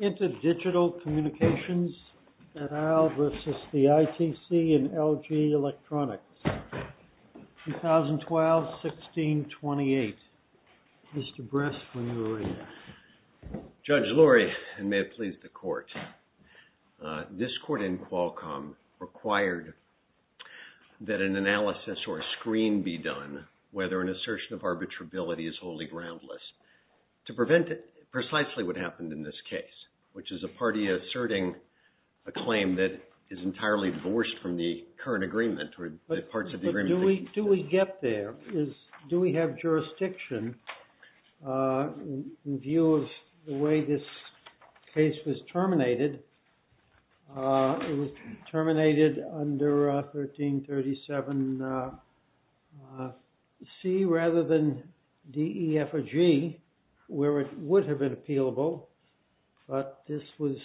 INTERDIGITAL COMMUNICATIONS AT ALL VERSUS THE ITC AND LG ELECTRONICS, 2012-16-28. Mr. Bress, when you're ready. Judge Lurie, and may it please the court, this court in Qualcomm required that an analysis or a screen be done whether an assertion of arbitrability is wholly groundless to prevent precisely what happened in this case, which is a party asserting a claim that is entirely divorced from the current agreement or the parts of the agreement... But do we get there? Do we have jurisdiction in view of the way this case was terminated? It was terminated under 1337C rather than DEFG where it would have been appealable, but this was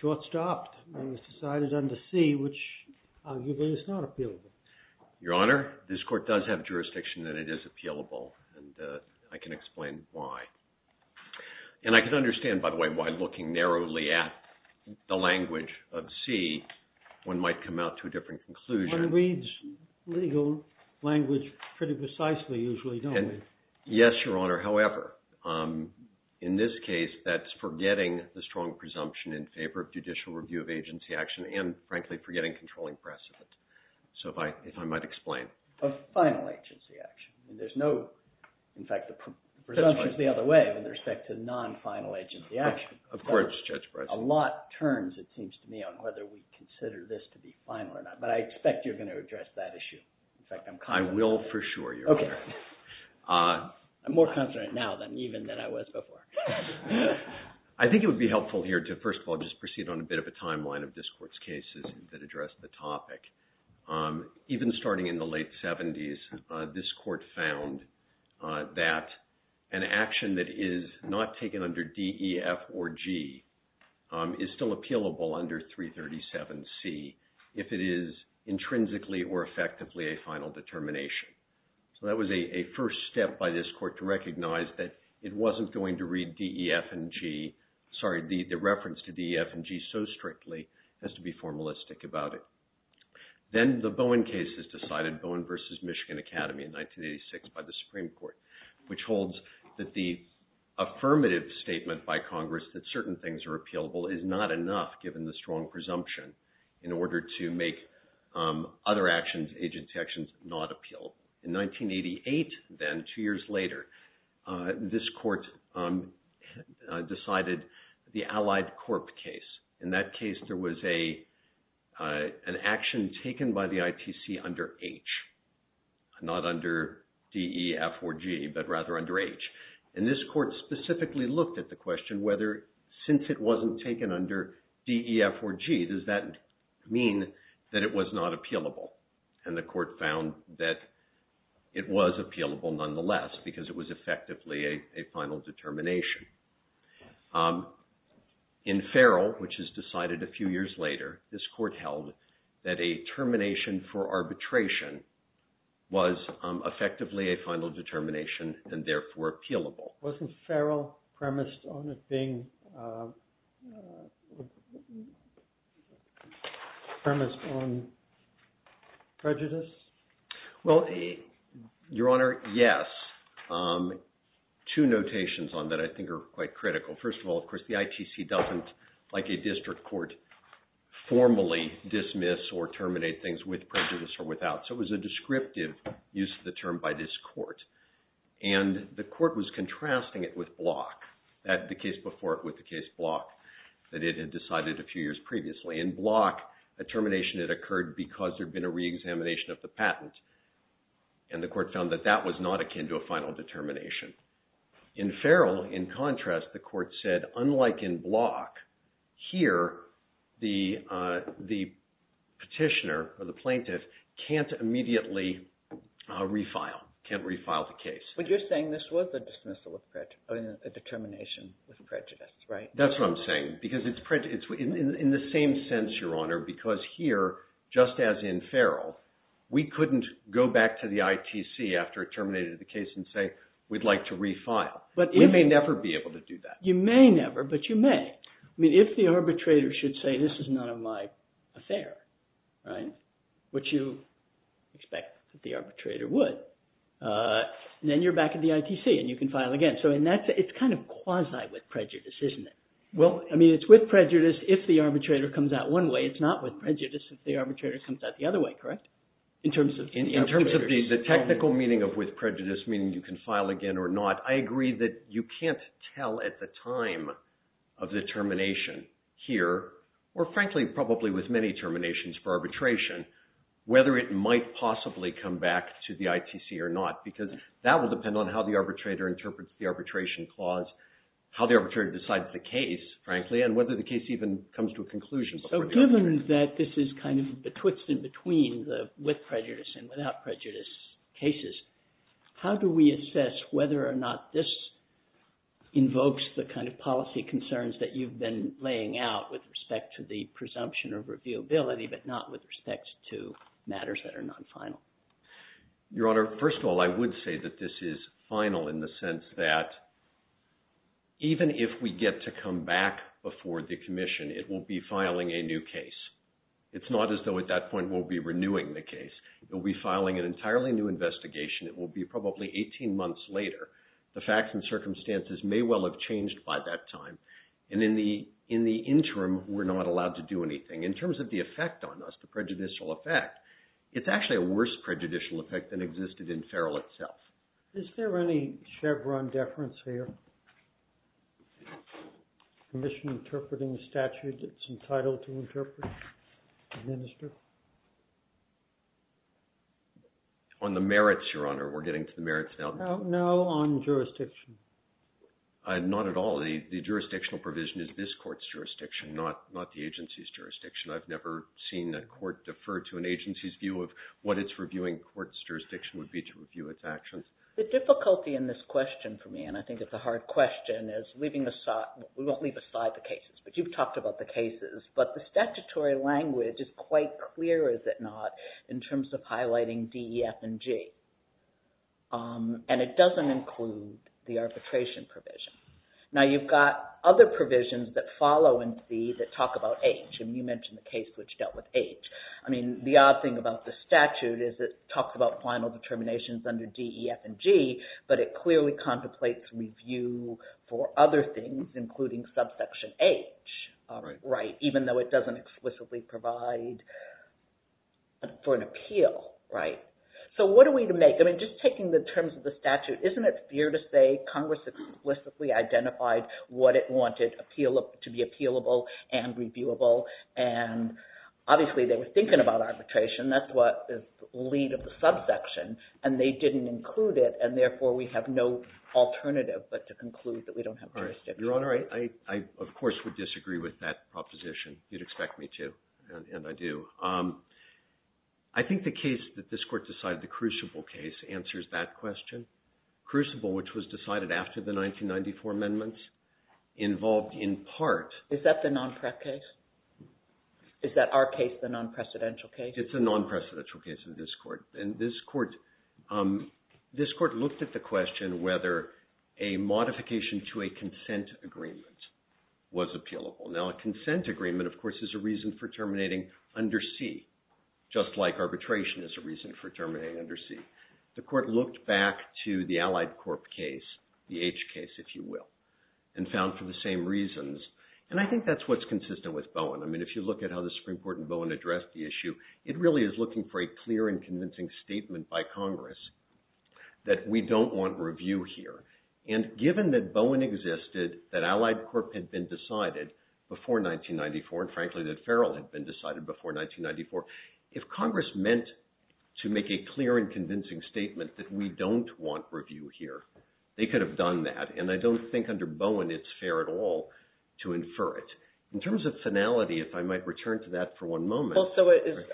short-stopped and was decided under C which arguably is not appealable. Your Honor, this court does have jurisdiction that it is appealable and I can explain why. And I can understand, by the way, why looking narrowly at the language of C one might come out to a different conclusion. One reads legal language pretty precisely usually, don't we? Yes, Your Honor. However, in this case that's forgetting the strong presumption in favor of judicial review of agency action and frankly forgetting controlling precedent. So if I might explain. Of final agency action. There's no, in fact, the presumption is the other way with respect to non-final agency action. Of course, Judge Breslin. A lot turns, it seems to me, on whether we consider this to be final or not. But I expect you're going to address that issue. I will for sure, Your Honor. I'm more confident now even than I was before. I think it would be helpful here to, first of all, just proceed on a bit of a timeline of this court's cases that address the topic. Even starting in the late 70s, this court found that an action that is not taken under D, E, F, or G is still appealable under 337C if it is intrinsically or effectively a final determination. So that was a first step by this court to recognize that it wasn't going to read D, E, F, and G. Sorry, the reference to D, E, F, and G so strictly has to be formalistic about it. Then the Bowen case is decided, Bowen v. Michigan Academy in 1986 by the Supreme Court, which holds that the affirmative statement by Congress that certain things are appealable is not enough given the strong presumption in order to make other actions, agency actions, not appeal. In 1988 then, two years later, this court decided the Allied Corp case. In that case, there was an action taken by the ITC under H, not under D, E, F, or G, but rather under H. And this court specifically looked at the question whether since it wasn't taken under D, E, F, or G, does that mean that it was not appealable? And the court found that it was appealable nonetheless because it was effectively a final determination. In Farrell, which is decided a few years later, this court held that a termination for arbitration was effectively a final determination and therefore appealable. Wasn't Farrell premised on it being premised on prejudice? Well, Your Honor, yes. Two notations on that I think are quite critical. First of all, of course, the ITC doesn't, like a district court, formally dismiss or terminate things with prejudice or without. So it was a descriptive use of the term by this court. And the court was contrasting it with Block, the case before it with the case Block that it had decided a few years previously. In Block, a termination had occurred because there had been a reexamination of the patent. And the court found that that was not akin to a final determination. In Farrell, in contrast, the court said, unlike in Block, here the petitioner or the plaintiff can't immediately refile, can't refile the case. But you're saying this was a dismissal of prejudice, a determination with prejudice, right? That's what I'm saying. Because in the same sense, Your Honor, because here, just as in Farrell, we couldn't go back to the ITC after it terminated the case and say, we'd like to refile. We may never be able to do that. You may never, but you may. I mean, if the arbitrator should say, this is none of my affair, right, which you expect that the arbitrator would, then you're back at the ITC and you can file again. So it's kind of quasi with prejudice, isn't it? Well, I mean, it's with prejudice if the arbitrator comes out one way. It's not with prejudice if the arbitrator comes out the other way, correct? In terms of the technical meaning of with prejudice, meaning you can file again or not, I agree that you can't tell at the time of the termination here, or frankly, probably with many terminations for arbitration, whether it might possibly come back to the ITC or not. Because that will depend on how the arbitrator interprets the arbitration clause, how the arbitrator decides the case, frankly, and whether the case even comes to a conclusion. So given that this is kind of the twist in between the with prejudice and without prejudice cases, how do we assess whether or not this invokes the kind of policy concerns that you've been laying out with respect to the presumption of reviewability, but not with respect to matters that are non-final? Your Honor, first of all, I would say that this is final in the sense that even if we get to come back before the commission, it will be filing a new case. It's not as though at that point we'll be renewing the case. It will be filing an entirely new investigation. It will be probably 18 months later. The facts and circumstances may well have changed by that time. And in the interim, we're not allowed to do anything. In terms of the effect on us, the prejudicial effect, it's actually a worse prejudicial effect than existed in Ferrell itself. Is there any Chevron deference here? Commission interpreting a statute that's entitled to interpret, administer? On the merits, Your Honor. We're getting to the merits now. No, on jurisdiction. Not at all. The jurisdictional provision is this court's jurisdiction, not the agency's jurisdiction. I've never seen a court defer to an agency's view of what its reviewing court's jurisdiction would be to review its actions. The difficulty in this question for me, and I think it's a hard question, is leaving aside, we won't leave aside the cases, but you've talked about the cases. But the statutory language is quite clear, is it not, in terms of highlighting DEF and G. And it doesn't include the arbitration provision. Now, you've got other provisions that follow in C that talk about H. And you mentioned the case which dealt with H. I mean, the odd thing about the statute is it talks about final determinations under DEF and G, but it clearly contemplates review for other things, including subsection H, even though it doesn't explicitly provide for an appeal. Right. So what are we to make? I mean, just taking the terms of the statute, isn't it fair to say Congress explicitly identified what it wanted to be appealable and reviewable? And obviously, they were thinking about arbitration. That's what is the lead of the subsection. And they didn't include it. And therefore, we have no alternative but to conclude that we don't have jurisdiction. Your Honor, I, of course, would disagree with that proposition. You'd expect me to. And I do. I think the case that this Court decided, the Crucible case, answers that question. Crucible, which was decided after the 1994 amendments, involved in part... Is that the non-prep case? Is that our case, the non-presidential case? It's a non-presidential case in this Court. And this Court looked at the question whether a modification to a consent agreement was appealable. Now, a consent agreement, of course, is a reason for terminating under C, just like arbitration is a reason for terminating under C. The Court looked back to the Allied Corp case, the H case, if you will, and found for the same reasons. And I think that's what's consistent with Bowen. I mean, if you look at how the Supreme Court and Bowen addressed the issue, it really is looking for a clear and convincing statement by Congress that we don't want review here. And given that Bowen existed, that Allied Corp had been decided, before 1994, and frankly that Farrell had been decided before 1994, if Congress meant to make a clear and convincing statement that we don't want review here, they could have done that. And I don't think under Bowen it's fair at all to infer it. In terms of finality, if I might return to that for one moment... Well, so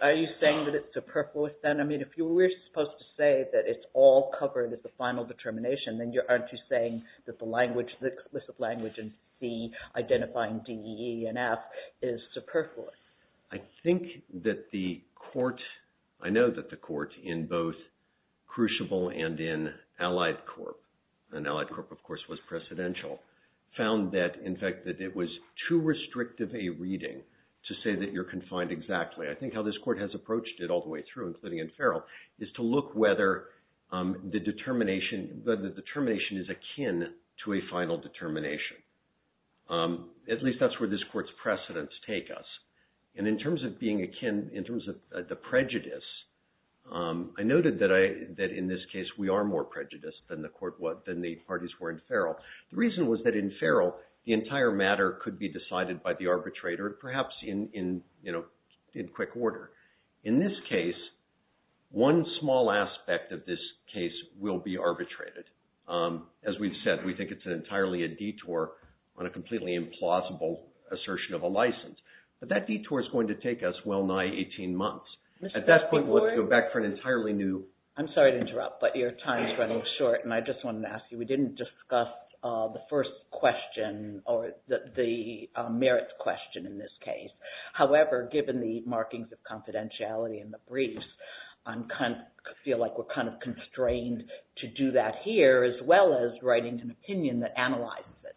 are you saying that it's superfluous, then? I mean, if we're supposed to say that it's all covered at the final determination, then aren't you saying that the language, the list of language in C identifying D, E, and F is superfluous? I think that the court, I know that the court in both Crucible and in Allied Corp, and Allied Corp, of course, was precedential, found that, in fact, that it was too restrictive a reading to say that you're confined exactly. I think how this court has approached it all the way through, including in Farrell, is to look whether the determination is akin to a final determination. At least that's where this court's precedents take us. And in terms of being akin, in terms of the prejudice, I noted that in this case we are more prejudiced than the parties were in Farrell. The reason was that in Farrell, the entire matter could be decided by the arbitrator, perhaps in quick order. In this case, one small aspect of this case will be arbitrated. As we've said, we think it's entirely a detour on a completely implausible assertion of a license. But that detour's going to take us well nigh 18 months. At that point, we'll have to go back for an entirely new... I'm sorry to interrupt, but your time's running short, and I just wanted to ask you, we didn't discuss the first question, or the merits question in this case. However, given the markings of confidentiality in the briefs, I feel like we're kind of constrained to do that here, as well as writing an opinion that analyzes it.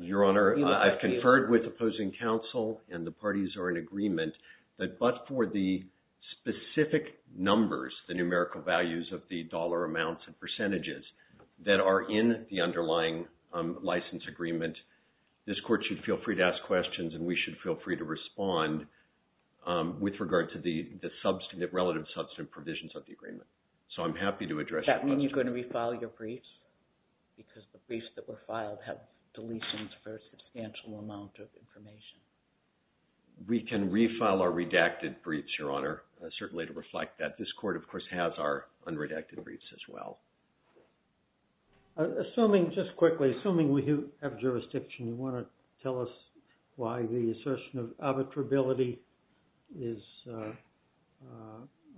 Your Honor, I've conferred with opposing counsel, and the parties are in agreement, that but for the specific numbers, the numerical values of the dollar amounts and percentages that are in the underlying license agreement, this court should feel free to ask questions, with regard to the relative substantive provisions of the agreement. So I'm happy to address... Does that mean you're going to refile your briefs? Because the briefs that were filed have deletions for a substantial amount of information. We can refile our redacted briefs, Your Honor, certainly to reflect that. This court, of course, has our unredacted briefs, as well. Assuming, just quickly, assuming we have jurisdiction, you want to tell us why the assertion of arbitrability is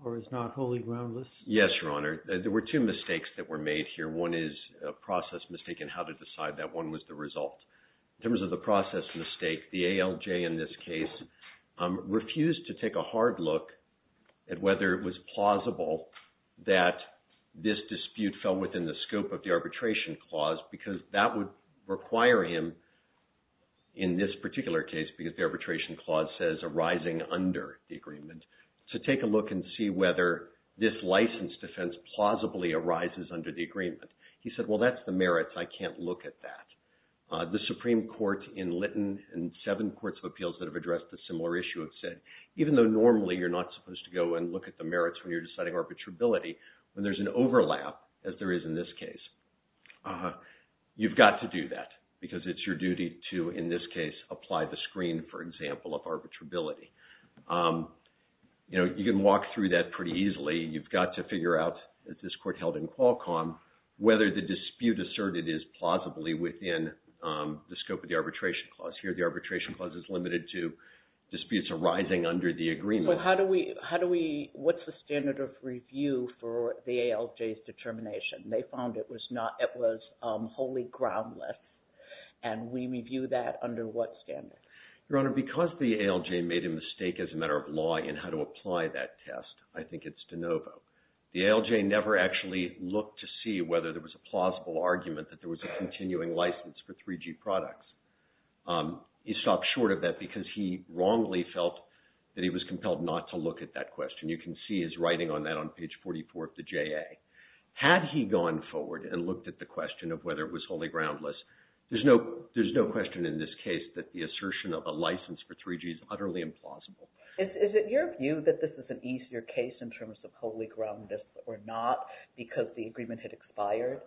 or is not wholly groundless? Yes, Your Honor. There were two mistakes that were made here. One is a process mistake in how to decide that one was the result. In terms of the process mistake, the ALJ in this case refused to take a hard look at whether it was plausible that this dispute fell within the scope of the arbitration clause, because that would require him, in this particular case, because the arbitration clause says arising under the agreement, to take a look and see whether this license defense plausibly arises under the agreement. He said, well, that's the merits. I can't look at that. The Supreme Court in Lytton and seven courts of appeals that have addressed a similar issue have said, even though normally you're not supposed to go and look at the merits when you're deciding arbitrability, when there's an overlap, as there is in this case, you've got to do that, because it's your duty to, in this case, apply the screen, for example, of arbitrability. You can walk through that pretty easily. You've got to figure out, as this court held in Qualcomm, whether the dispute asserted is plausibly within the scope of the arbitration clause. Here, the arbitration clause is limited to disputes arising under the agreement. How do we, what's the standard of review for the ALJ's determination? They found it was wholly groundless, and we review that under what standard? Your Honor, because the ALJ made a mistake as a matter of law in how to apply that test, I think it's de novo. The ALJ never actually looked to see whether there was a plausible argument that there was a continuing license for 3G products. He stopped short of that because he wrongly felt that he was compelled not to look at that question. You can see his writing on that on page 44 of the JA. Had he gone forward and looked at the question of whether it was wholly groundless, there's no question in this case that the assertion of a license for 3G is utterly implausible. Is it your view that this is an easier case in terms of wholly groundless or not because the agreement had expired?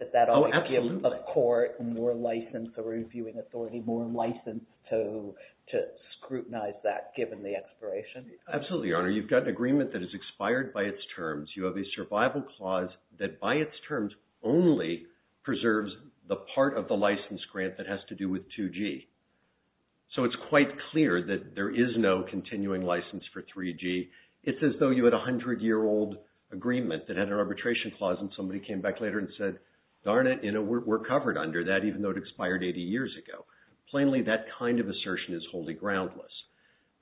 Oh, absolutely. Does that always give a court more license or a reviewing authority more license to scrutinize that given the expiration? Absolutely, Your Honor. You've got an agreement that has expired by its terms. You have a survival clause that by its terms only preserves the part of the license grant that has to do with 2G. So it's quite clear that there is no continuing license for 3G. It's as though you had a 100-year-old agreement that had an arbitration clause and somebody came back later and said, darn it, we're covered under that even though it expired 80 years ago. Plainly, that kind of assertion is wholly groundless.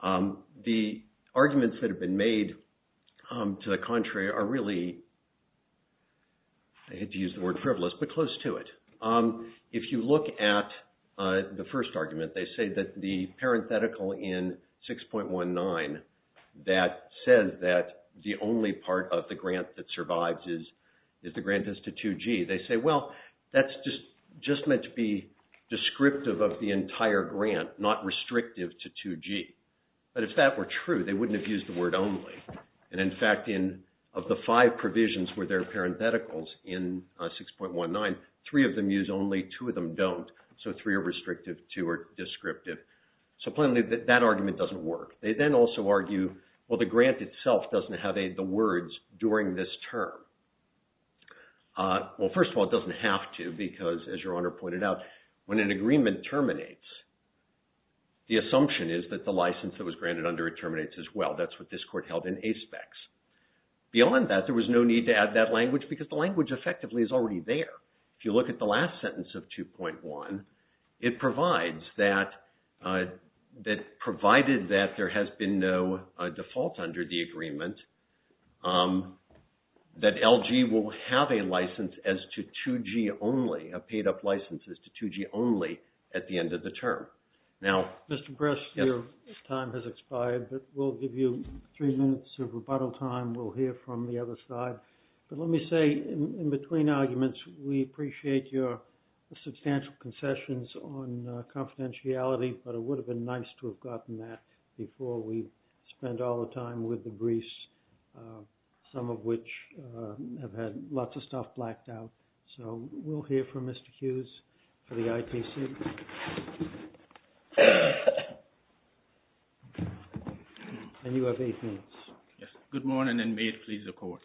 The arguments that have been made to the contrary are really, I hate to use the word frivolous, but close to it. If you look at the first argument, they say that the parenthetical in 6.19 that says that the only part of the grant that survives is the grant that's to 2G, they say, well, that's just meant to be descriptive of the entire grant, not restrictive to 2G. But if that were true, they wouldn't have used the word only. And in fact, of the five provisions where there are parentheticals in 6.19, three of them use only, two of them don't. So three are restrictive, two are descriptive. So plainly, that argument doesn't work. They then also argue, well, the grant itself doesn't have the words during this term. Well, first of all, it doesn't have to because, as Your Honor pointed out, when an agreement terminates, the assumption is that the license that was granted under it terminates as well. That's what this Court held in A-specs. Beyond that, there was no need to add that language because the language effectively is already there. If you look at the last sentence of 2.1, it provides that, provided that there has been no default under the agreement, that LG will have a license as to 2G only, a paid-up license as to 2G only at the end of the term. Mr. Bress, your time has expired, but we'll give you three minutes of rebuttal time. We'll hear from the other side. But let me say, in between arguments, we appreciate your substantial concessions on confidentiality, but it would have been nice to have gotten that before we spent all the time with the briefs, some of which have had lots of stuff blacked out. So we'll hear from Mr. Hughes for the ITC. And you have eight minutes. Good morning, and may it please the Court.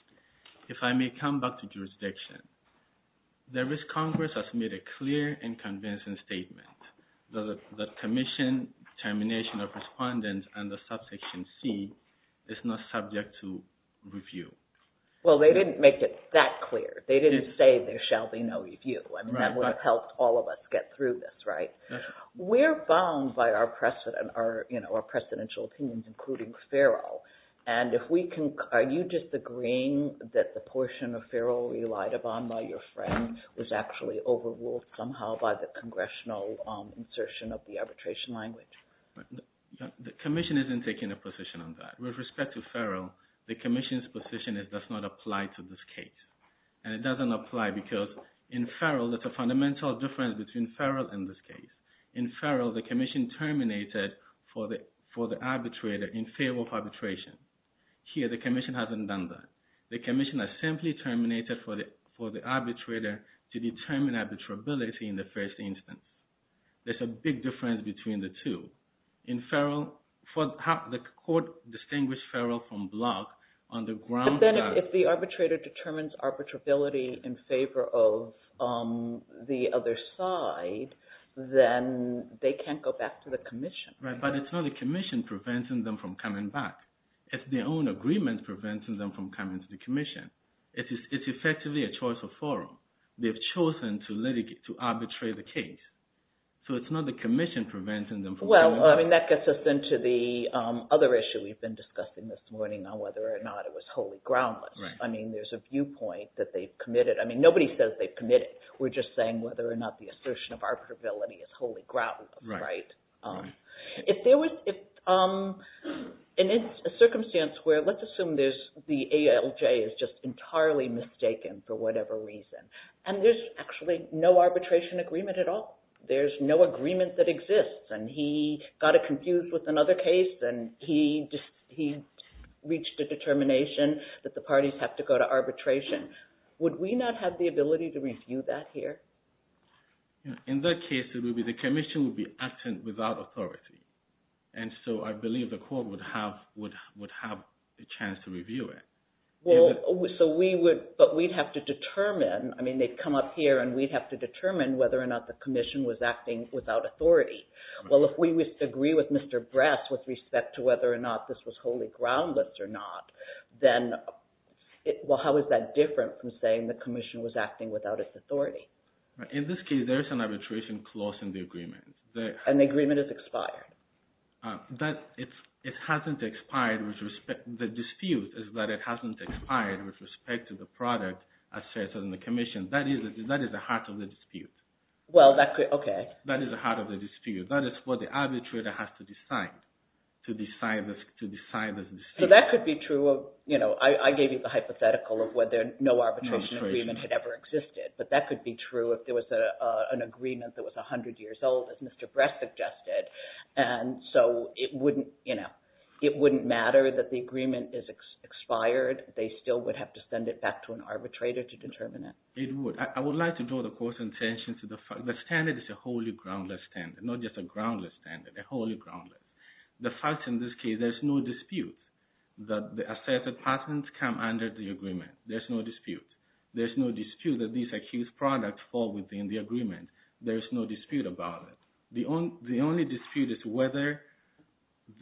If I may come back to jurisdiction, there is Congress has made a clear and convincing statement that the commission termination of respondents under subsection C is not subject to review. Well, they didn't make it that clear. They didn't say there shall be no review. I mean, that would have helped all of us get through this, right? We're bound by our presidential opinions, including Farrell. And if we can, are you just agreeing that the portion of Farrell relied upon by your friend was actually overruled somehow by the congressional insertion of the arbitration language? The commission isn't taking a position on that. With respect to Farrell, the commission's position does not apply to this case. And it doesn't apply because in Farrell, there's a fundamental difference between Farrell and this case. In Farrell, the commission terminated for the arbitrator in favor of arbitration. Here, the commission hasn't done that. The commission has simply terminated for the arbitrator to determine arbitrability in the first instance. There's a big difference between the two. In Farrell, the court distinguished Farrell from Block on the grounds that... But then if the arbitrator determines arbitrability in favor of the other side, then they can't go back to the commission. Right, but it's not the commission preventing them from coming back. It's their own agreement preventing them from coming to the commission. It's effectively a choice of Farrell. They've chosen to litigate, to arbitrate the case. So it's not the commission preventing them from coming back. Well, I mean, that gets us into the other issue we've been discussing this morning on whether or not it was wholly groundless. I mean, there's a viewpoint that they've committed. I mean, nobody says they've committed. We're just saying whether or not the assertion of arbitrability is wholly groundless, right? If there was... And it's a circumstance where let's assume the ALJ is just entirely mistaken for whatever reason, and there's actually no arbitration agreement at all. There's no agreement that exists, and he got it confused with another case, and he reached a determination that the parties have to go to arbitration. Would we not have the ability to review that here? In that case, the commission would be acting without authority. And so I believe the court would have a chance to review it. Well, so we would... But we'd have to determine... I mean, they'd come up here, and we'd have to determine whether or not the commission was acting without authority. Well, if we would agree with Mr. Bress with respect to whether or not this was wholly groundless or not, then... Well, how is that different from saying the commission was acting without its authority? In this case, there is an arbitration clause in the agreement. And the agreement is expired. It hasn't expired with respect... The dispute is that it hasn't expired with respect to the product asserted in the commission. That is the heart of the dispute. Well, that could... Okay. That is the heart of the dispute. That is what the arbitrator has to decide, to decide this dispute. So that could be true of... You know, I gave you the hypothetical of whether no arbitration agreement had ever existed. But that could be true if there was an agreement that was 100 years old, as Mr. Bress suggested. And so it wouldn't, you know... It wouldn't matter that the agreement is expired. They still would have to send it back to an arbitrator to determine it. It would. I would like to draw the court's attention to the fact... The standard is a wholly groundless standard, not just a groundless standard, a wholly groundless. The fact in this case, there's no dispute that the asserted patents come under the agreement. There's no dispute. There's no dispute that these accused products fall within the agreement. There's no dispute about it. The only dispute is whether...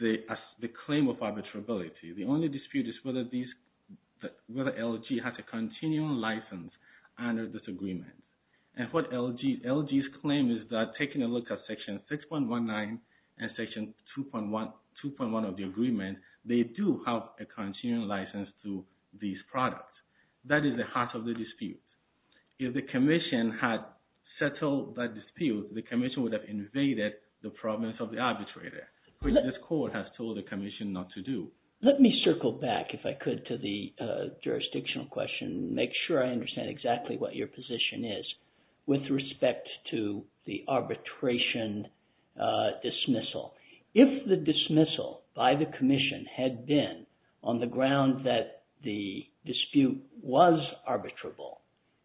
The claim of arbitrability. The only dispute is whether these... Whether LG has a continuing license under this agreement. And what LG's claim is that, taking a look at section 6.19 and section 2.1 of the agreement, they do have a continuing license to these products. That is the heart of the dispute. If the commission had settled that dispute, the commission would have invaded the province of the arbitrator, which this court has told the commission not to do. Let me circle back, if I could, to the jurisdictional question and make sure I understand exactly what your position is with respect to the arbitration dismissal. If the dismissal by the commission had been on the ground that the dispute was arbitrable,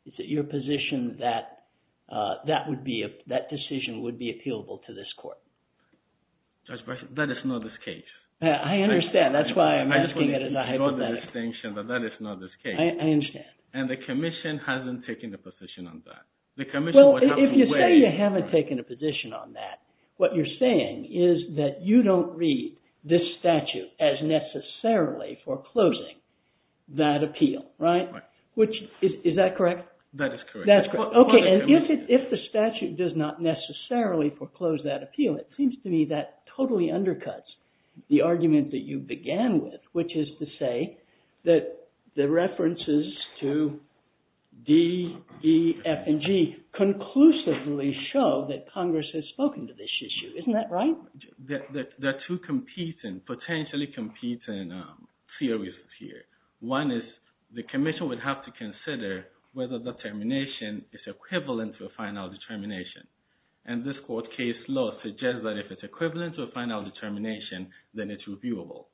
is it your position that that decision would be appealable to this court? That is not the case. I understand. That's why I'm asking it in a hypothetical. I just want to draw the distinction that that is not the case. I understand. And the commission hasn't taken a position on that. If you say you haven't taken a position on that, what you're saying is that you don't read this statute as necessarily foreclosing that appeal. Is that correct? That is correct. If the statute does not necessarily foreclose that appeal, it seems to me that totally undercuts the argument that you began with, which is to say that the references to D, E, F, and G conclusively show that Congress has spoken to this issue. Isn't that right? There are two competing, potentially competing theories here. One is the commission would have to consider whether the termination is equivalent to a final determination. And this court case law suggests that if it's equivalent to a final determination, then it's reviewable.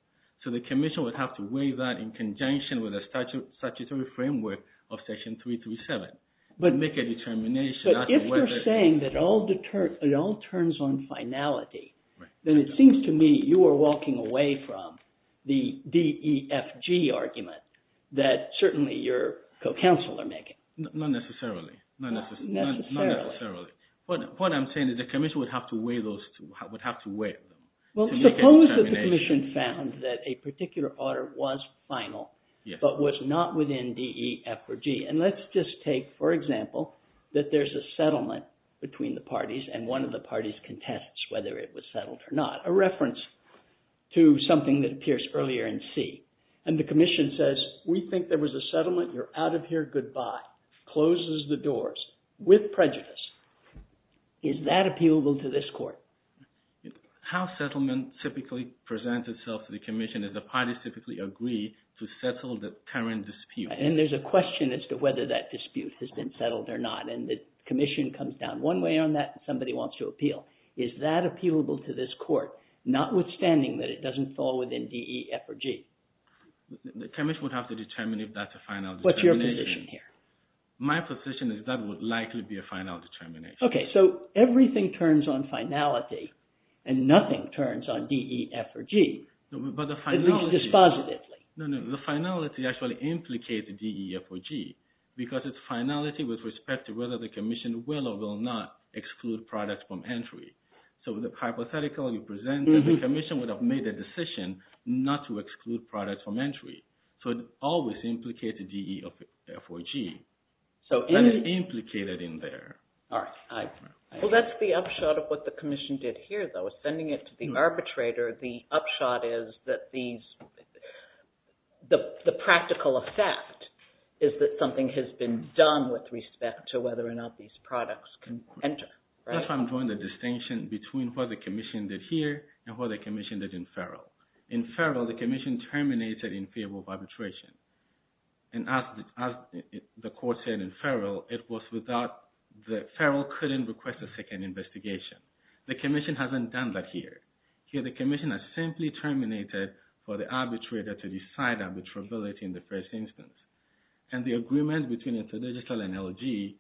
So the commission would have to weigh that in conjunction with the statutory framework of Section 337 and make a determination as to whether… But if you're saying that it all turns on finality, then it seems to me you are walking away from the D, E, F, G argument that certainly your co-counsel are making. Not necessarily. Not necessarily. What I'm saying is the commission would have to weigh those two, would have to weigh them. Well, suppose that the commission found that a particular order was final but was not within D, E, F, or G. And let's just take, for example, that there's a settlement between the parties and one of the parties contests whether it was settled or not, a reference to something that appears earlier in C. And the commission says, we think there was a settlement. You're out of here. Goodbye. Closes the doors with prejudice. Is that appealable to this court? How settlement typically presents itself to the commission is the parties typically agree to settle the current dispute. And there's a question as to whether that dispute has been settled or not. And the commission comes down one way on that and somebody wants to appeal. Is that appealable to this court, notwithstanding that it doesn't fall within D, E, F, or G? The commission would have to determine if that's a final determination. What's your position here? My position is that would likely be a final determination. Okay, so everything turns on finality and nothing turns on D, E, F, or G. Dispositively. No, no, the finality actually implicates D, E, F, or G because it's finality with respect to whether the commission will or will not exclude products from entry. So the hypothetical you presented, the commission would have made a decision not to exclude products from entry. So it always implicates D, E, F, or G. That is implicated in there. Well, that's the upshot of what the commission did here, though. Ascending it to the arbitrator, the upshot is that the practical effect is that something has been done with respect to whether or not these products can enter. That's why I'm drawing the distinction between what the commission did here and what the commission did in Farrell. In Farrell, the commission terminated infeasible arbitration. And as the court said in Farrell, Farrell couldn't request a second investigation. The commission hasn't done that here. Here the commission has simply terminated for the arbitrator to decide arbitrability in the first instance. And the agreement between InterDigital and LG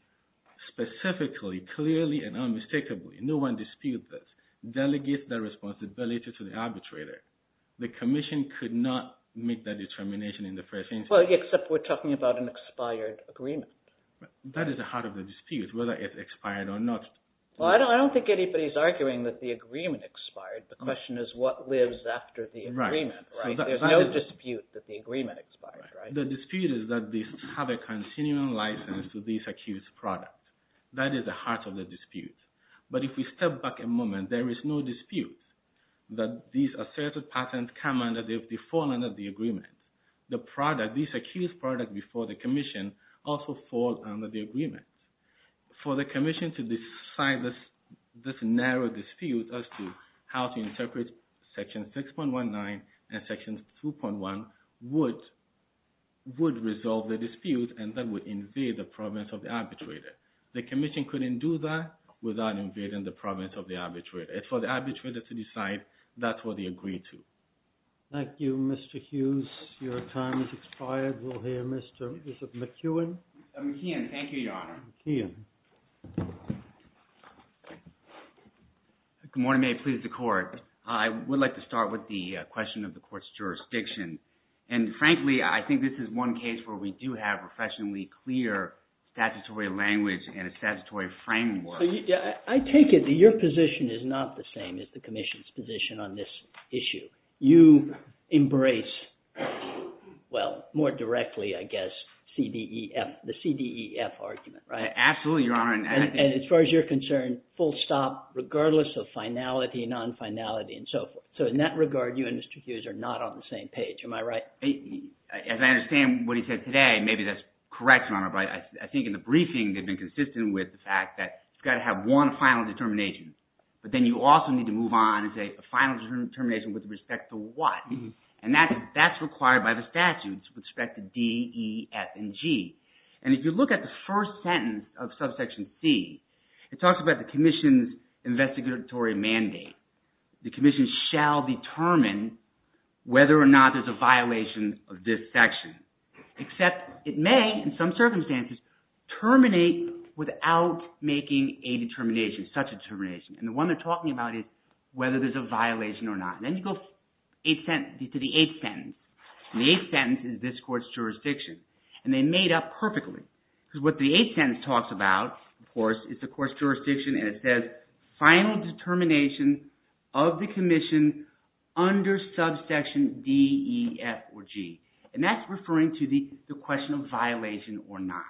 specifically, clearly, and unmistakably, no one disputed this, delegates that responsibility to the arbitrator. The commission could not make that determination in the first instance. Well, except we're talking about an expired agreement. That is the heart of the dispute, whether it's expired or not. Well, I don't think anybody's arguing that the agreement expired. The question is what lives after the agreement, right? There's no dispute that the agreement expired, right? The dispute is that they have a continuing license to these accused products. That is the heart of the dispute. But if we step back a moment, there is no dispute that these asserted patents come under, they've fallen under the agreement. The product, these accused products before the commission also fall under the agreement. For the commission to decide this narrow dispute as to how to interpret Section 6.19 and Section 2.1 would resolve the dispute and that would invade the province of the arbitrator. The commission couldn't do that without invading the province of the arbitrator. For the arbitrator to decide, that's what they agreed to. Thank you, Mr. Hughes. Your time has expired. We'll hear Mr. McEwen. McEwen, thank you, Your Honor. Good morning, may it please the court. I would like to start with the question of the court's jurisdiction. And frankly, I think this is one case where we do have professionally clear statutory language and a statutory framework. I take it that your position is not the same as the commission's position on this issue. You embrace, well, more directly, I guess, the CDEF argument, right? Absolutely, Your Honor. And as far as you're concerned, full stop regardless of finality, non-finality, and so forth. So in that regard, you and Mr. Hughes are not on the same page. Am I right? As I understand what he said today, maybe that's correct, Your Honor, but I think in the briefing they've been consistent with the fact that you've got to have one final determination. But then you also need to move on to a final determination with respect to what. And that's required by the statute with respect to D, E, F, and G. And if you look at the first sentence of subsection C, it talks about the commission's investigatory mandate. The commission shall determine whether or not there's a violation of this section. Except it may, in some circumstances, terminate without making a determination, such a determination. And the one they're talking about is whether there's a violation or not. Then you go to the eighth sentence. And the eighth sentence is this court's jurisdiction. And they made up perfectly. Because what the eighth sentence talks about, of course, is the court's jurisdiction. And it says, final determination of the commission under subsection D, E, F, or G. And that's referring to the question of violation or not.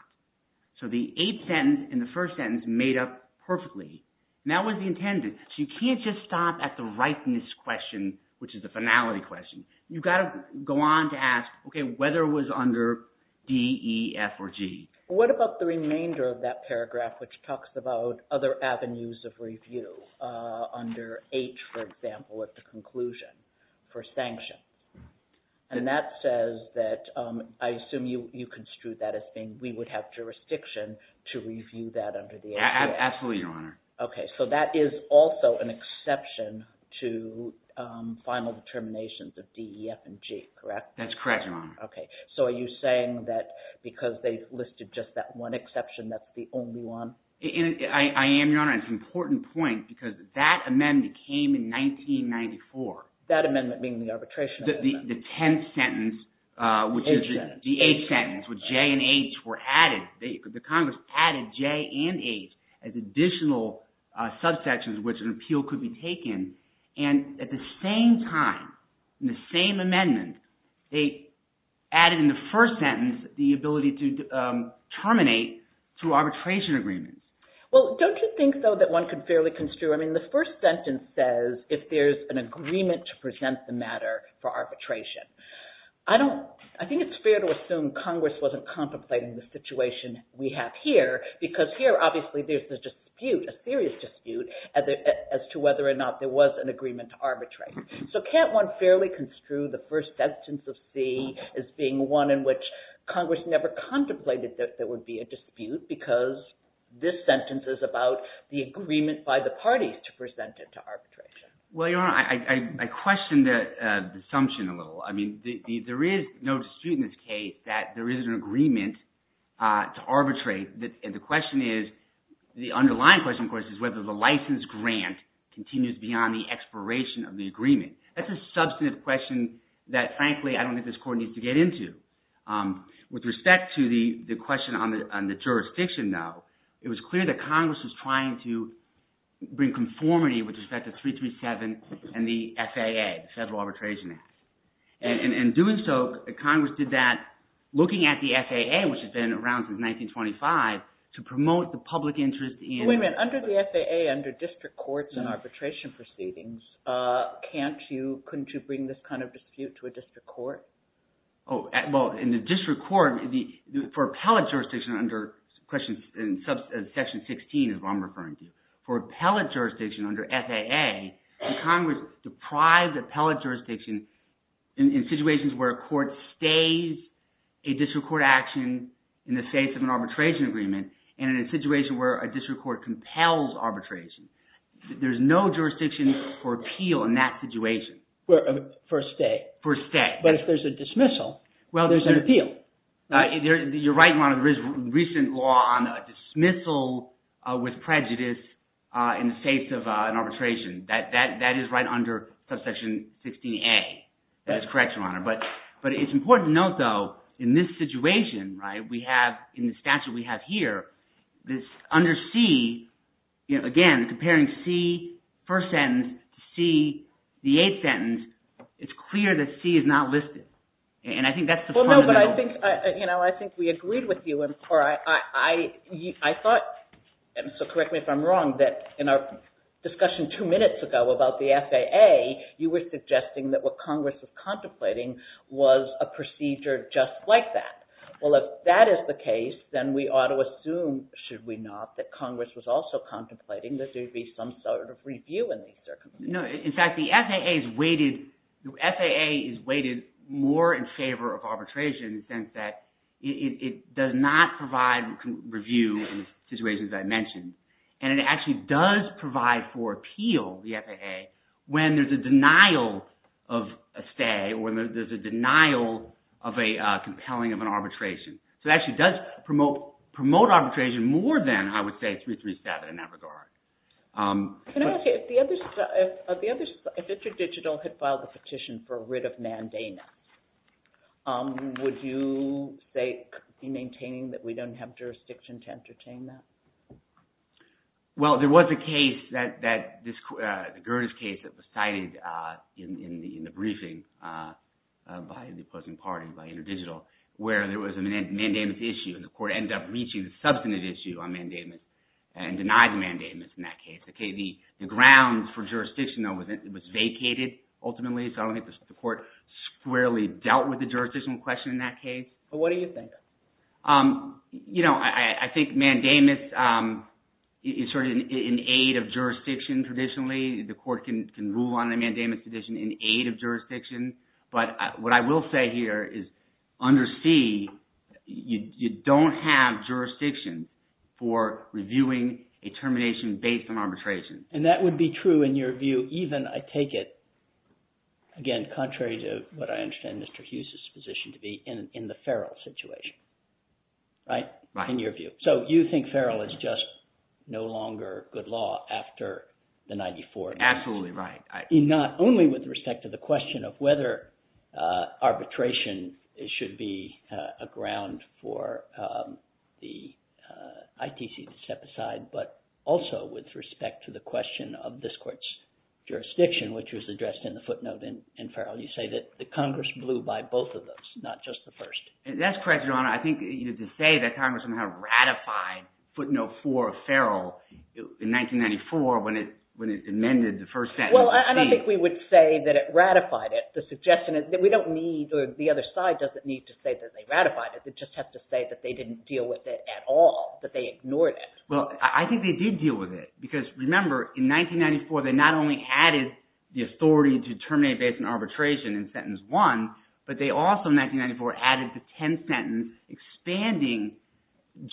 So the eighth sentence in the first sentence made up perfectly. And that was the intended. So you can't just stop at the rightness question, which is the finality question. You've got to go on to ask, OK, whether it was under D, E, F, or G. What about the remainder of that paragraph, which talks about other avenues of review under H, for example, at the conclusion for sanction? And that says that, I assume you construed that as being, we would have jurisdiction to review that under the H. Absolutely, Your Honor. OK. So that is also an exception to final determinations of D, E, F, and G, correct? That's correct, Your Honor. OK. So are you saying that because they listed just that one exception, that's the only one? I am, Your Honor. And it's an important point. Because that amendment came in 1994. That amendment being the arbitration amendment. The tenth sentence, which is the eighth sentence, where J and H were added. The Congress added J and H as additional subsections which an appeal could be taken. And at the same time, in the same amendment, they added in the first sentence the ability to terminate through arbitration agreements. Well, don't you think, though, that one could fairly construe, I mean, the first sentence says, if there's an agreement to present the matter for arbitration. I think it's fair to assume Congress wasn't contemplating the situation we have here. Because here, obviously, there's a dispute, a serious dispute, as to whether or not there was an agreement to arbitrate. So can't one fairly construe the first sentence of C as being one in which Congress never contemplated that there would be a dispute because this sentence is about the agreement by the parties to present it to arbitration? Well, Your Honor, I question the assumption a little. I mean, there is no dispute in this case that there is an agreement to arbitrate. And the question is, the underlying question, of course, is whether the license grant continues beyond the expiration of the agreement. That's a substantive question that, frankly, I don't think this Court needs to get into. With respect to the question on the jurisdiction, though, it was clear that Congress was trying to bring conformity with respect to 337 and the FAA, the Federal Arbitration Act. And in doing so, Congress did that, looking at the FAA, which has been around since 1925, to promote the public interest in – Wait a minute. Under the FAA, under district courts and arbitration proceedings, couldn't you bring this kind of dispute to a district court? Oh, well, in the district court, for appellate jurisdiction under Section 16, as I'm referring to, for appellate jurisdiction under FAA, Congress deprived appellate jurisdiction in situations where a court stays a district court action in the face of an arbitration agreement and in a situation where a district court compels arbitration. There's no jurisdiction for appeal in that situation. For a stay. For a stay. But if there's a dismissal, there's an appeal. You're right, Your Honor, there is recent law on dismissal with prejudice in the face of an arbitration. That is right under Subsection 16A. That is correct, Your Honor. But it's important to note, though, in this situation, right, we have in the statute we have here, this under C, again, comparing C, first sentence, to C, the eighth sentence, it's clear that C is not listed. Well, no, but I think we agreed with you, and I thought, and so correct me if I'm wrong, that in our discussion two minutes ago about the FAA, you were suggesting that what Congress was contemplating was a procedure just like that. Well, if that is the case, then we ought to assume, should we not, that Congress was also contemplating that there would be some sort of review in these circumstances. In fact, the FAA is weighted more in favor of arbitration in the sense that it does not provide review in situations I mentioned, and it actually does provide for appeal, the FAA, when there's a denial of a stay or there's a denial of a compelling of an arbitration. So it actually does promote arbitration more than, I would say, 337 in that regard. Can I ask you, if InterDigital had filed a petition for a writ of mandamus, would you be maintaining that we don't have jurisdiction to entertain that? Well, there was a case, the Gerdes case that was cited in the briefing by the opposing party, by InterDigital, where there was a mandamus issue, and the court ended up reaching the substantive issue on mandamus and denied mandamus in that case. The grounds for jurisdiction, though, was vacated ultimately, so I don't think the court squarely dealt with the jurisdictional question in that case. But what do you think? You know, I think mandamus is sort of in aid of jurisdiction traditionally. The court can rule on a mandamus petition in aid of jurisdiction, but what I will say here is under C, you don't have jurisdiction for reviewing a termination based on arbitration. And that would be true in your view even, I take it, again, contrary to what I understand Mr. Hughes' position to be, in the Ferrell situation, right, in your view? Right. So you think Ferrell is just no longer good law after the 94? Absolutely right. Not only with respect to the question of whether arbitration should be a ground for the ITC to step aside, but also with respect to the question of this court's jurisdiction, which was addressed in the footnote in Ferrell, you say that the Congress blew by both of those, not just the first. That's correct, Your Honor. I think to say that Congress somehow ratified footnote 4 of Ferrell in 1994 when it amended the first sentence. Well, I don't think we would say that it ratified it. The suggestion is that we don't need, or the other side doesn't need to say that they ratified it. It just has to say that they didn't deal with it at all, that they ignored it. Well, I think they did deal with it. Because remember, in 1994, they not only added the authority to terminate based on arbitration in sentence 1, but they also, in 1994, added the 10th sentence, expanding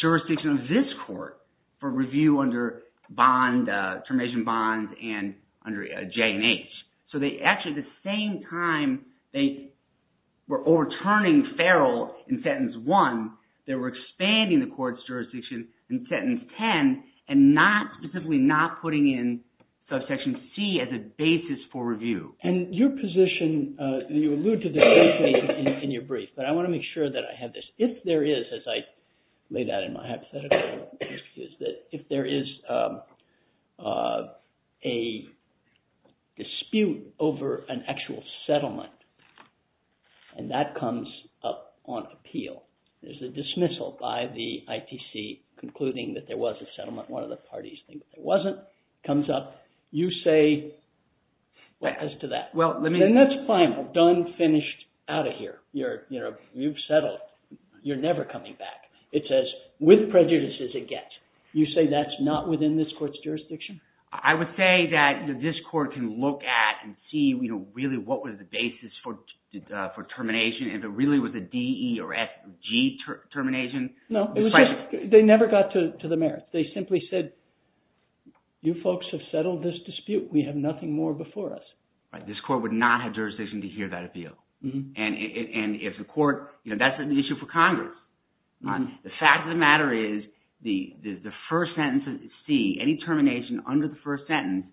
jurisdiction of this court for review under bond, termination bonds, and under J&H. So they actually, at the same time, they were overturning Ferrell in sentence 1. They were expanding the court's jurisdiction in sentence 10 and specifically not putting in subsection C as a basis for review. And your position, and you allude to this briefly in your brief, but I want to make sure that I have this. If there is, as I lay that in my hypothetical, if there is a dispute over an actual settlement, and that comes up on appeal, there's a dismissal by the ITC concluding that there was a settlement. One of the parties thinks it wasn't. It comes up. You say, what as to that? Then that's fine. We're done, finished, out of here. You've settled. You're never coming back. It says, with prejudices it gets. You say that's not within this court's jurisdiction? I would say that this court can look at and see really what was the basis for termination. If it really was a D, E, or F, G termination. No, they never got to the merits. They simply said, you folks have settled this dispute. We have nothing more before us. This court would not have jurisdiction to hear that appeal. And if the court, that's an issue for Congress. The fact of the matter is the first sentence, C, any termination under the first sentence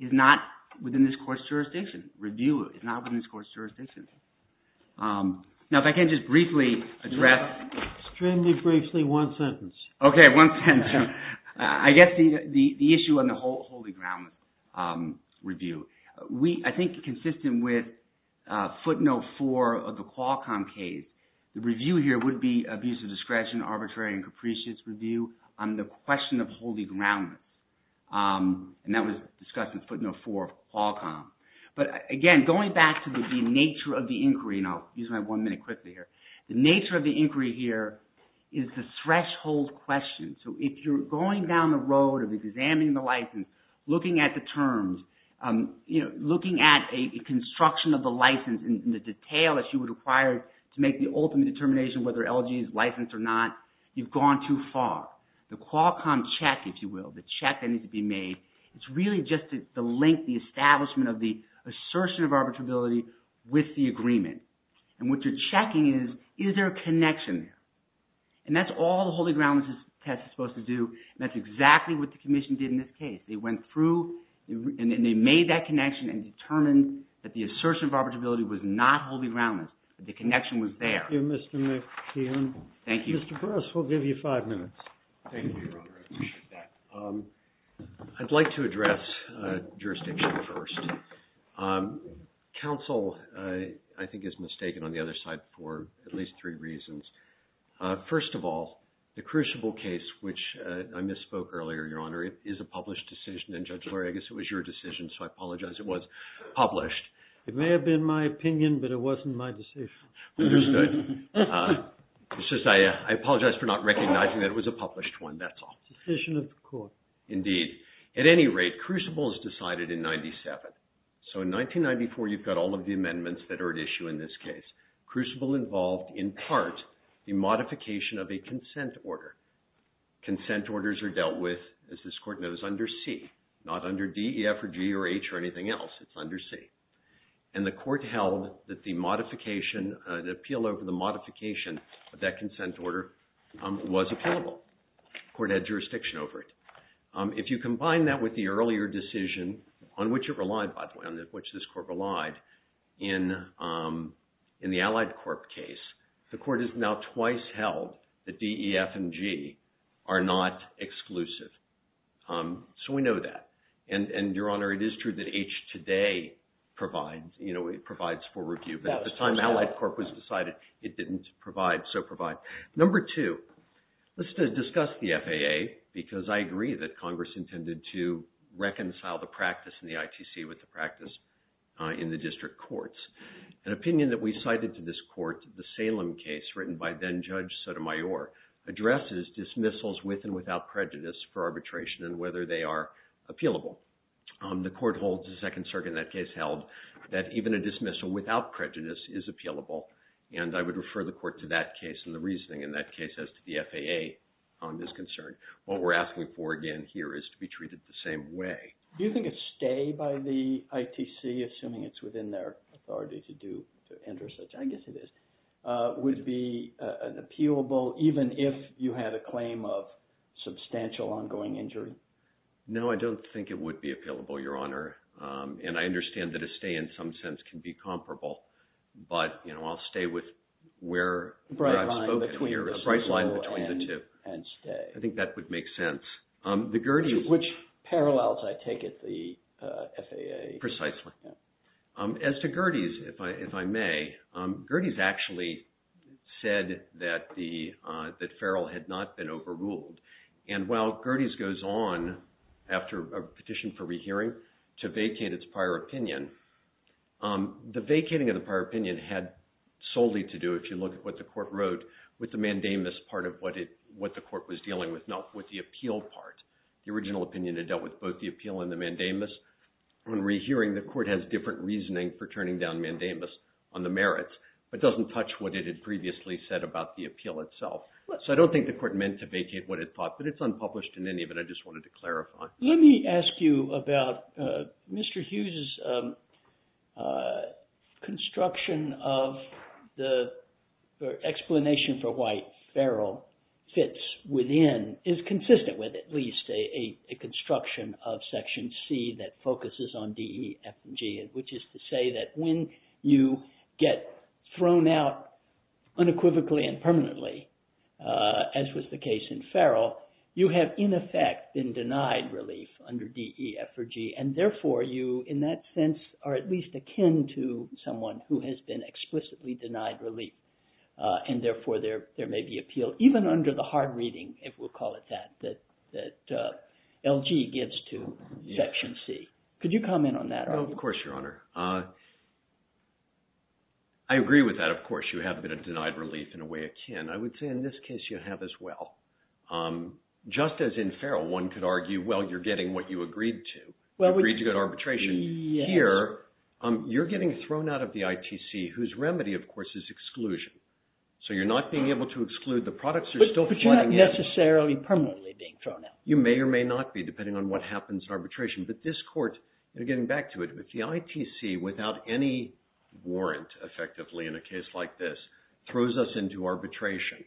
is not within this court's jurisdiction. Review is not within this court's jurisdiction. Now, if I can just briefly address. Extremely briefly, one sentence. Okay, one sentence. I guess the issue on the Holy Ground review. I think consistent with footnote four of the Qualcomm case, the review here would be abuse of discretion, arbitrary and capricious review on the question of Holy Ground. And that was discussed in footnote four of Qualcomm. But again, going back to the nature of the inquiry, and I'll use my one minute quickly here. The nature of the inquiry here is the threshold question. So if you're going down the road of examining the license, looking at the terms, looking at a construction of the license and the detail that you would require to make the ultimate determination whether LG is licensed or not, you've gone too far. The Qualcomm check, if you will, the check that needs to be made, it's really just the link, the establishment of the assertion of arbitrability with the agreement. And what you're checking is, is there a connection there? And that's all the Holy Ground test is supposed to do. And that's exactly what the commission did in this case. They went through and they made that connection and determined that the assertion of arbitrability was not Holy Ground. The connection was there. Thank you, Mr. McKeon. Thank you. Mr. Burrus, we'll give you five minutes. Thank you, Your Honor. I appreciate that. I'd like to address jurisdiction first. Counsel, I think, is mistaken on the other side for at least three reasons. First of all, the Crucible case, which I misspoke earlier, Your Honor, is a published decision. And Judge Lurie, I guess it was your decision, so I apologize it was published. It may have been my opinion, but it wasn't my decision. Understood. It's just I apologize for not recognizing that it was a published one. That's all. Decision of the court. Indeed. At any rate, Crucible is decided in 97. So in 1994, you've got all of the amendments that are at issue in this case. Crucible involved, in part, the modification of a consent order. Consent orders are dealt with, as this court knows, under C. Not under D, E, F, or G, or H, or anything else. It's under C. And the court held that the modification, the appeal over the modification of that consent order, was applicable. The court had jurisdiction over it. If you combine that with the earlier decision, on which it relied, by the way, on which this court relied, in the Allied Corp case, the court has now twice held that D, E, F, and G are not exclusive. So we know that. And Your Honor, it is true that H today provides. It provides for review. But at the time Allied Corp was decided, it didn't provide, so provide. Number two. Let's discuss the FAA, because I agree that Congress intended to reconcile the practice in the ITC with the practice in the district courts. An opinion that we cited to this court, the Salem case, written by then Judge Sotomayor, addresses dismissals with and without prejudice for arbitration and whether they are appealable. The court holds, the Second Circuit in that case held, that even a dismissal without prejudice is appealable. And I would refer the court to that case and the reasoning in that case as to the FAA on this concern. What we're asking for, again, here is to be treated the same way. Do you think a stay by the ITC, assuming it's within their authority to do, to enter such, I guess it is, would be an appealable, even if you had a claim of substantial ongoing injury? No, I don't think it would be appealable, Your Honor. And I understand that a stay, in some sense, can be comparable. But I'll stay with where I spoke at. A bright line between dismissal and stay. A bright line between the two. I think that would make sense. Which parallels I take at the FAA. Precisely. As to Gerdes, if I may, Gerdes actually said that Farrell had not been overruled. And while Gerdes goes on, after a petition for rehearing, to vacate its prior opinion, the vacating of the prior opinion had solely to do, if you look at what the court wrote, with the mandamus part of what the court was dealing with, not with the appeal part. The original opinion had dealt with both the appeal and the mandamus. On rehearing, the court has different reasoning for turning down mandamus on the merits. It doesn't touch what it had previously said about the appeal itself. So I don't think the court meant to vacate what it thought. But it's unpublished in any of it. I just wanted to clarify. Let me ask you about Mr. Hughes's construction of the explanation for why Farrell fits within, is consistent with, at least, a construction of Section C that focuses on D, E, F, and G, which is to say that when you get thrown out unequivocally and permanently, as was the case in Farrell, you have, in effect, been denied relief under D, E, F, or G. And therefore, you, in that sense, are at least akin to someone who has been explicitly denied relief. And therefore, there may be appeal, even under the hard reading, if we'll call it that, that LG gives to Section C. Could you comment on that? Oh, of course, Your Honor. I agree with that, of course. You have been denied relief in a way akin. I would say in this case, you have as well. Just as in Farrell, one could argue, well, you're getting what you agreed to. You agreed to good arbitration. Here, you're getting thrown out of the ITC, whose remedy, of course, is exclusion. So you're not being able to exclude the products. They're still flooding in. But you're not necessarily permanently being thrown out. You may or may not be, depending on what happens in arbitration. But this court, getting back to it, the ITC, without any warrant, effectively, in a case like this, throws us into arbitration.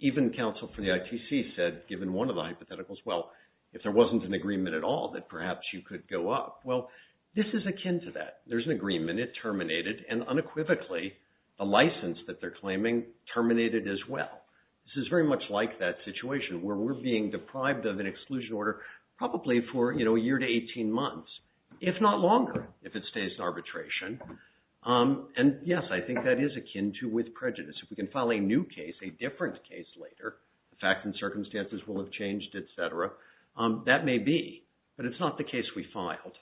Even counsel for the ITC said, given one of the hypotheticals, well, if there wasn't an agreement at all, that perhaps you could go up. Well, this is akin to that. There's an agreement. It terminated. And unequivocally, the license that they're claiming terminated as well. This is very much like that situation, where we're being deprived of an exclusion order, probably for a year to 18 months, if not longer, if it stays in arbitration. And yes, I think that is akin to with prejudice. If we can file a new case, a different case later, the facts and circumstances will have changed, et cetera, that may be. But it's not the case we filed.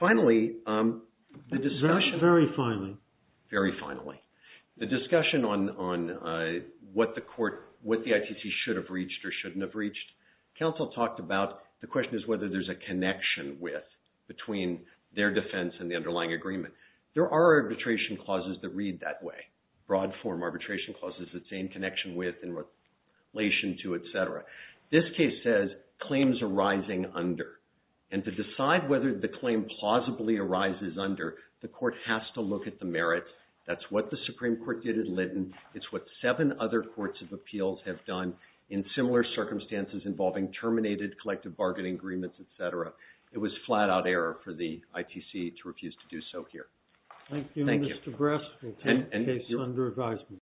Finally, the discussion. Very finally. Very finally. The discussion on what the ITC should have reached or shouldn't have reached. Counsel talked about, the question is whether there's a connection with, between their defense and the underlying agreement. There are arbitration clauses that read that way. Broad form arbitration clauses that say in connection with, in relation to, et cetera. This case says, claims arising under. And to decide whether the claim plausibly arises under, the court has to look at the merits. That's what the Supreme Court did at Lytton. It's what seven other courts of appeals have done in similar circumstances involving terminated collective bargaining agreements, et cetera. It was flat out error for the ITC to refuse to do so here. Thank you. Thank you, Mr. Brest. We'll take the case under advisement.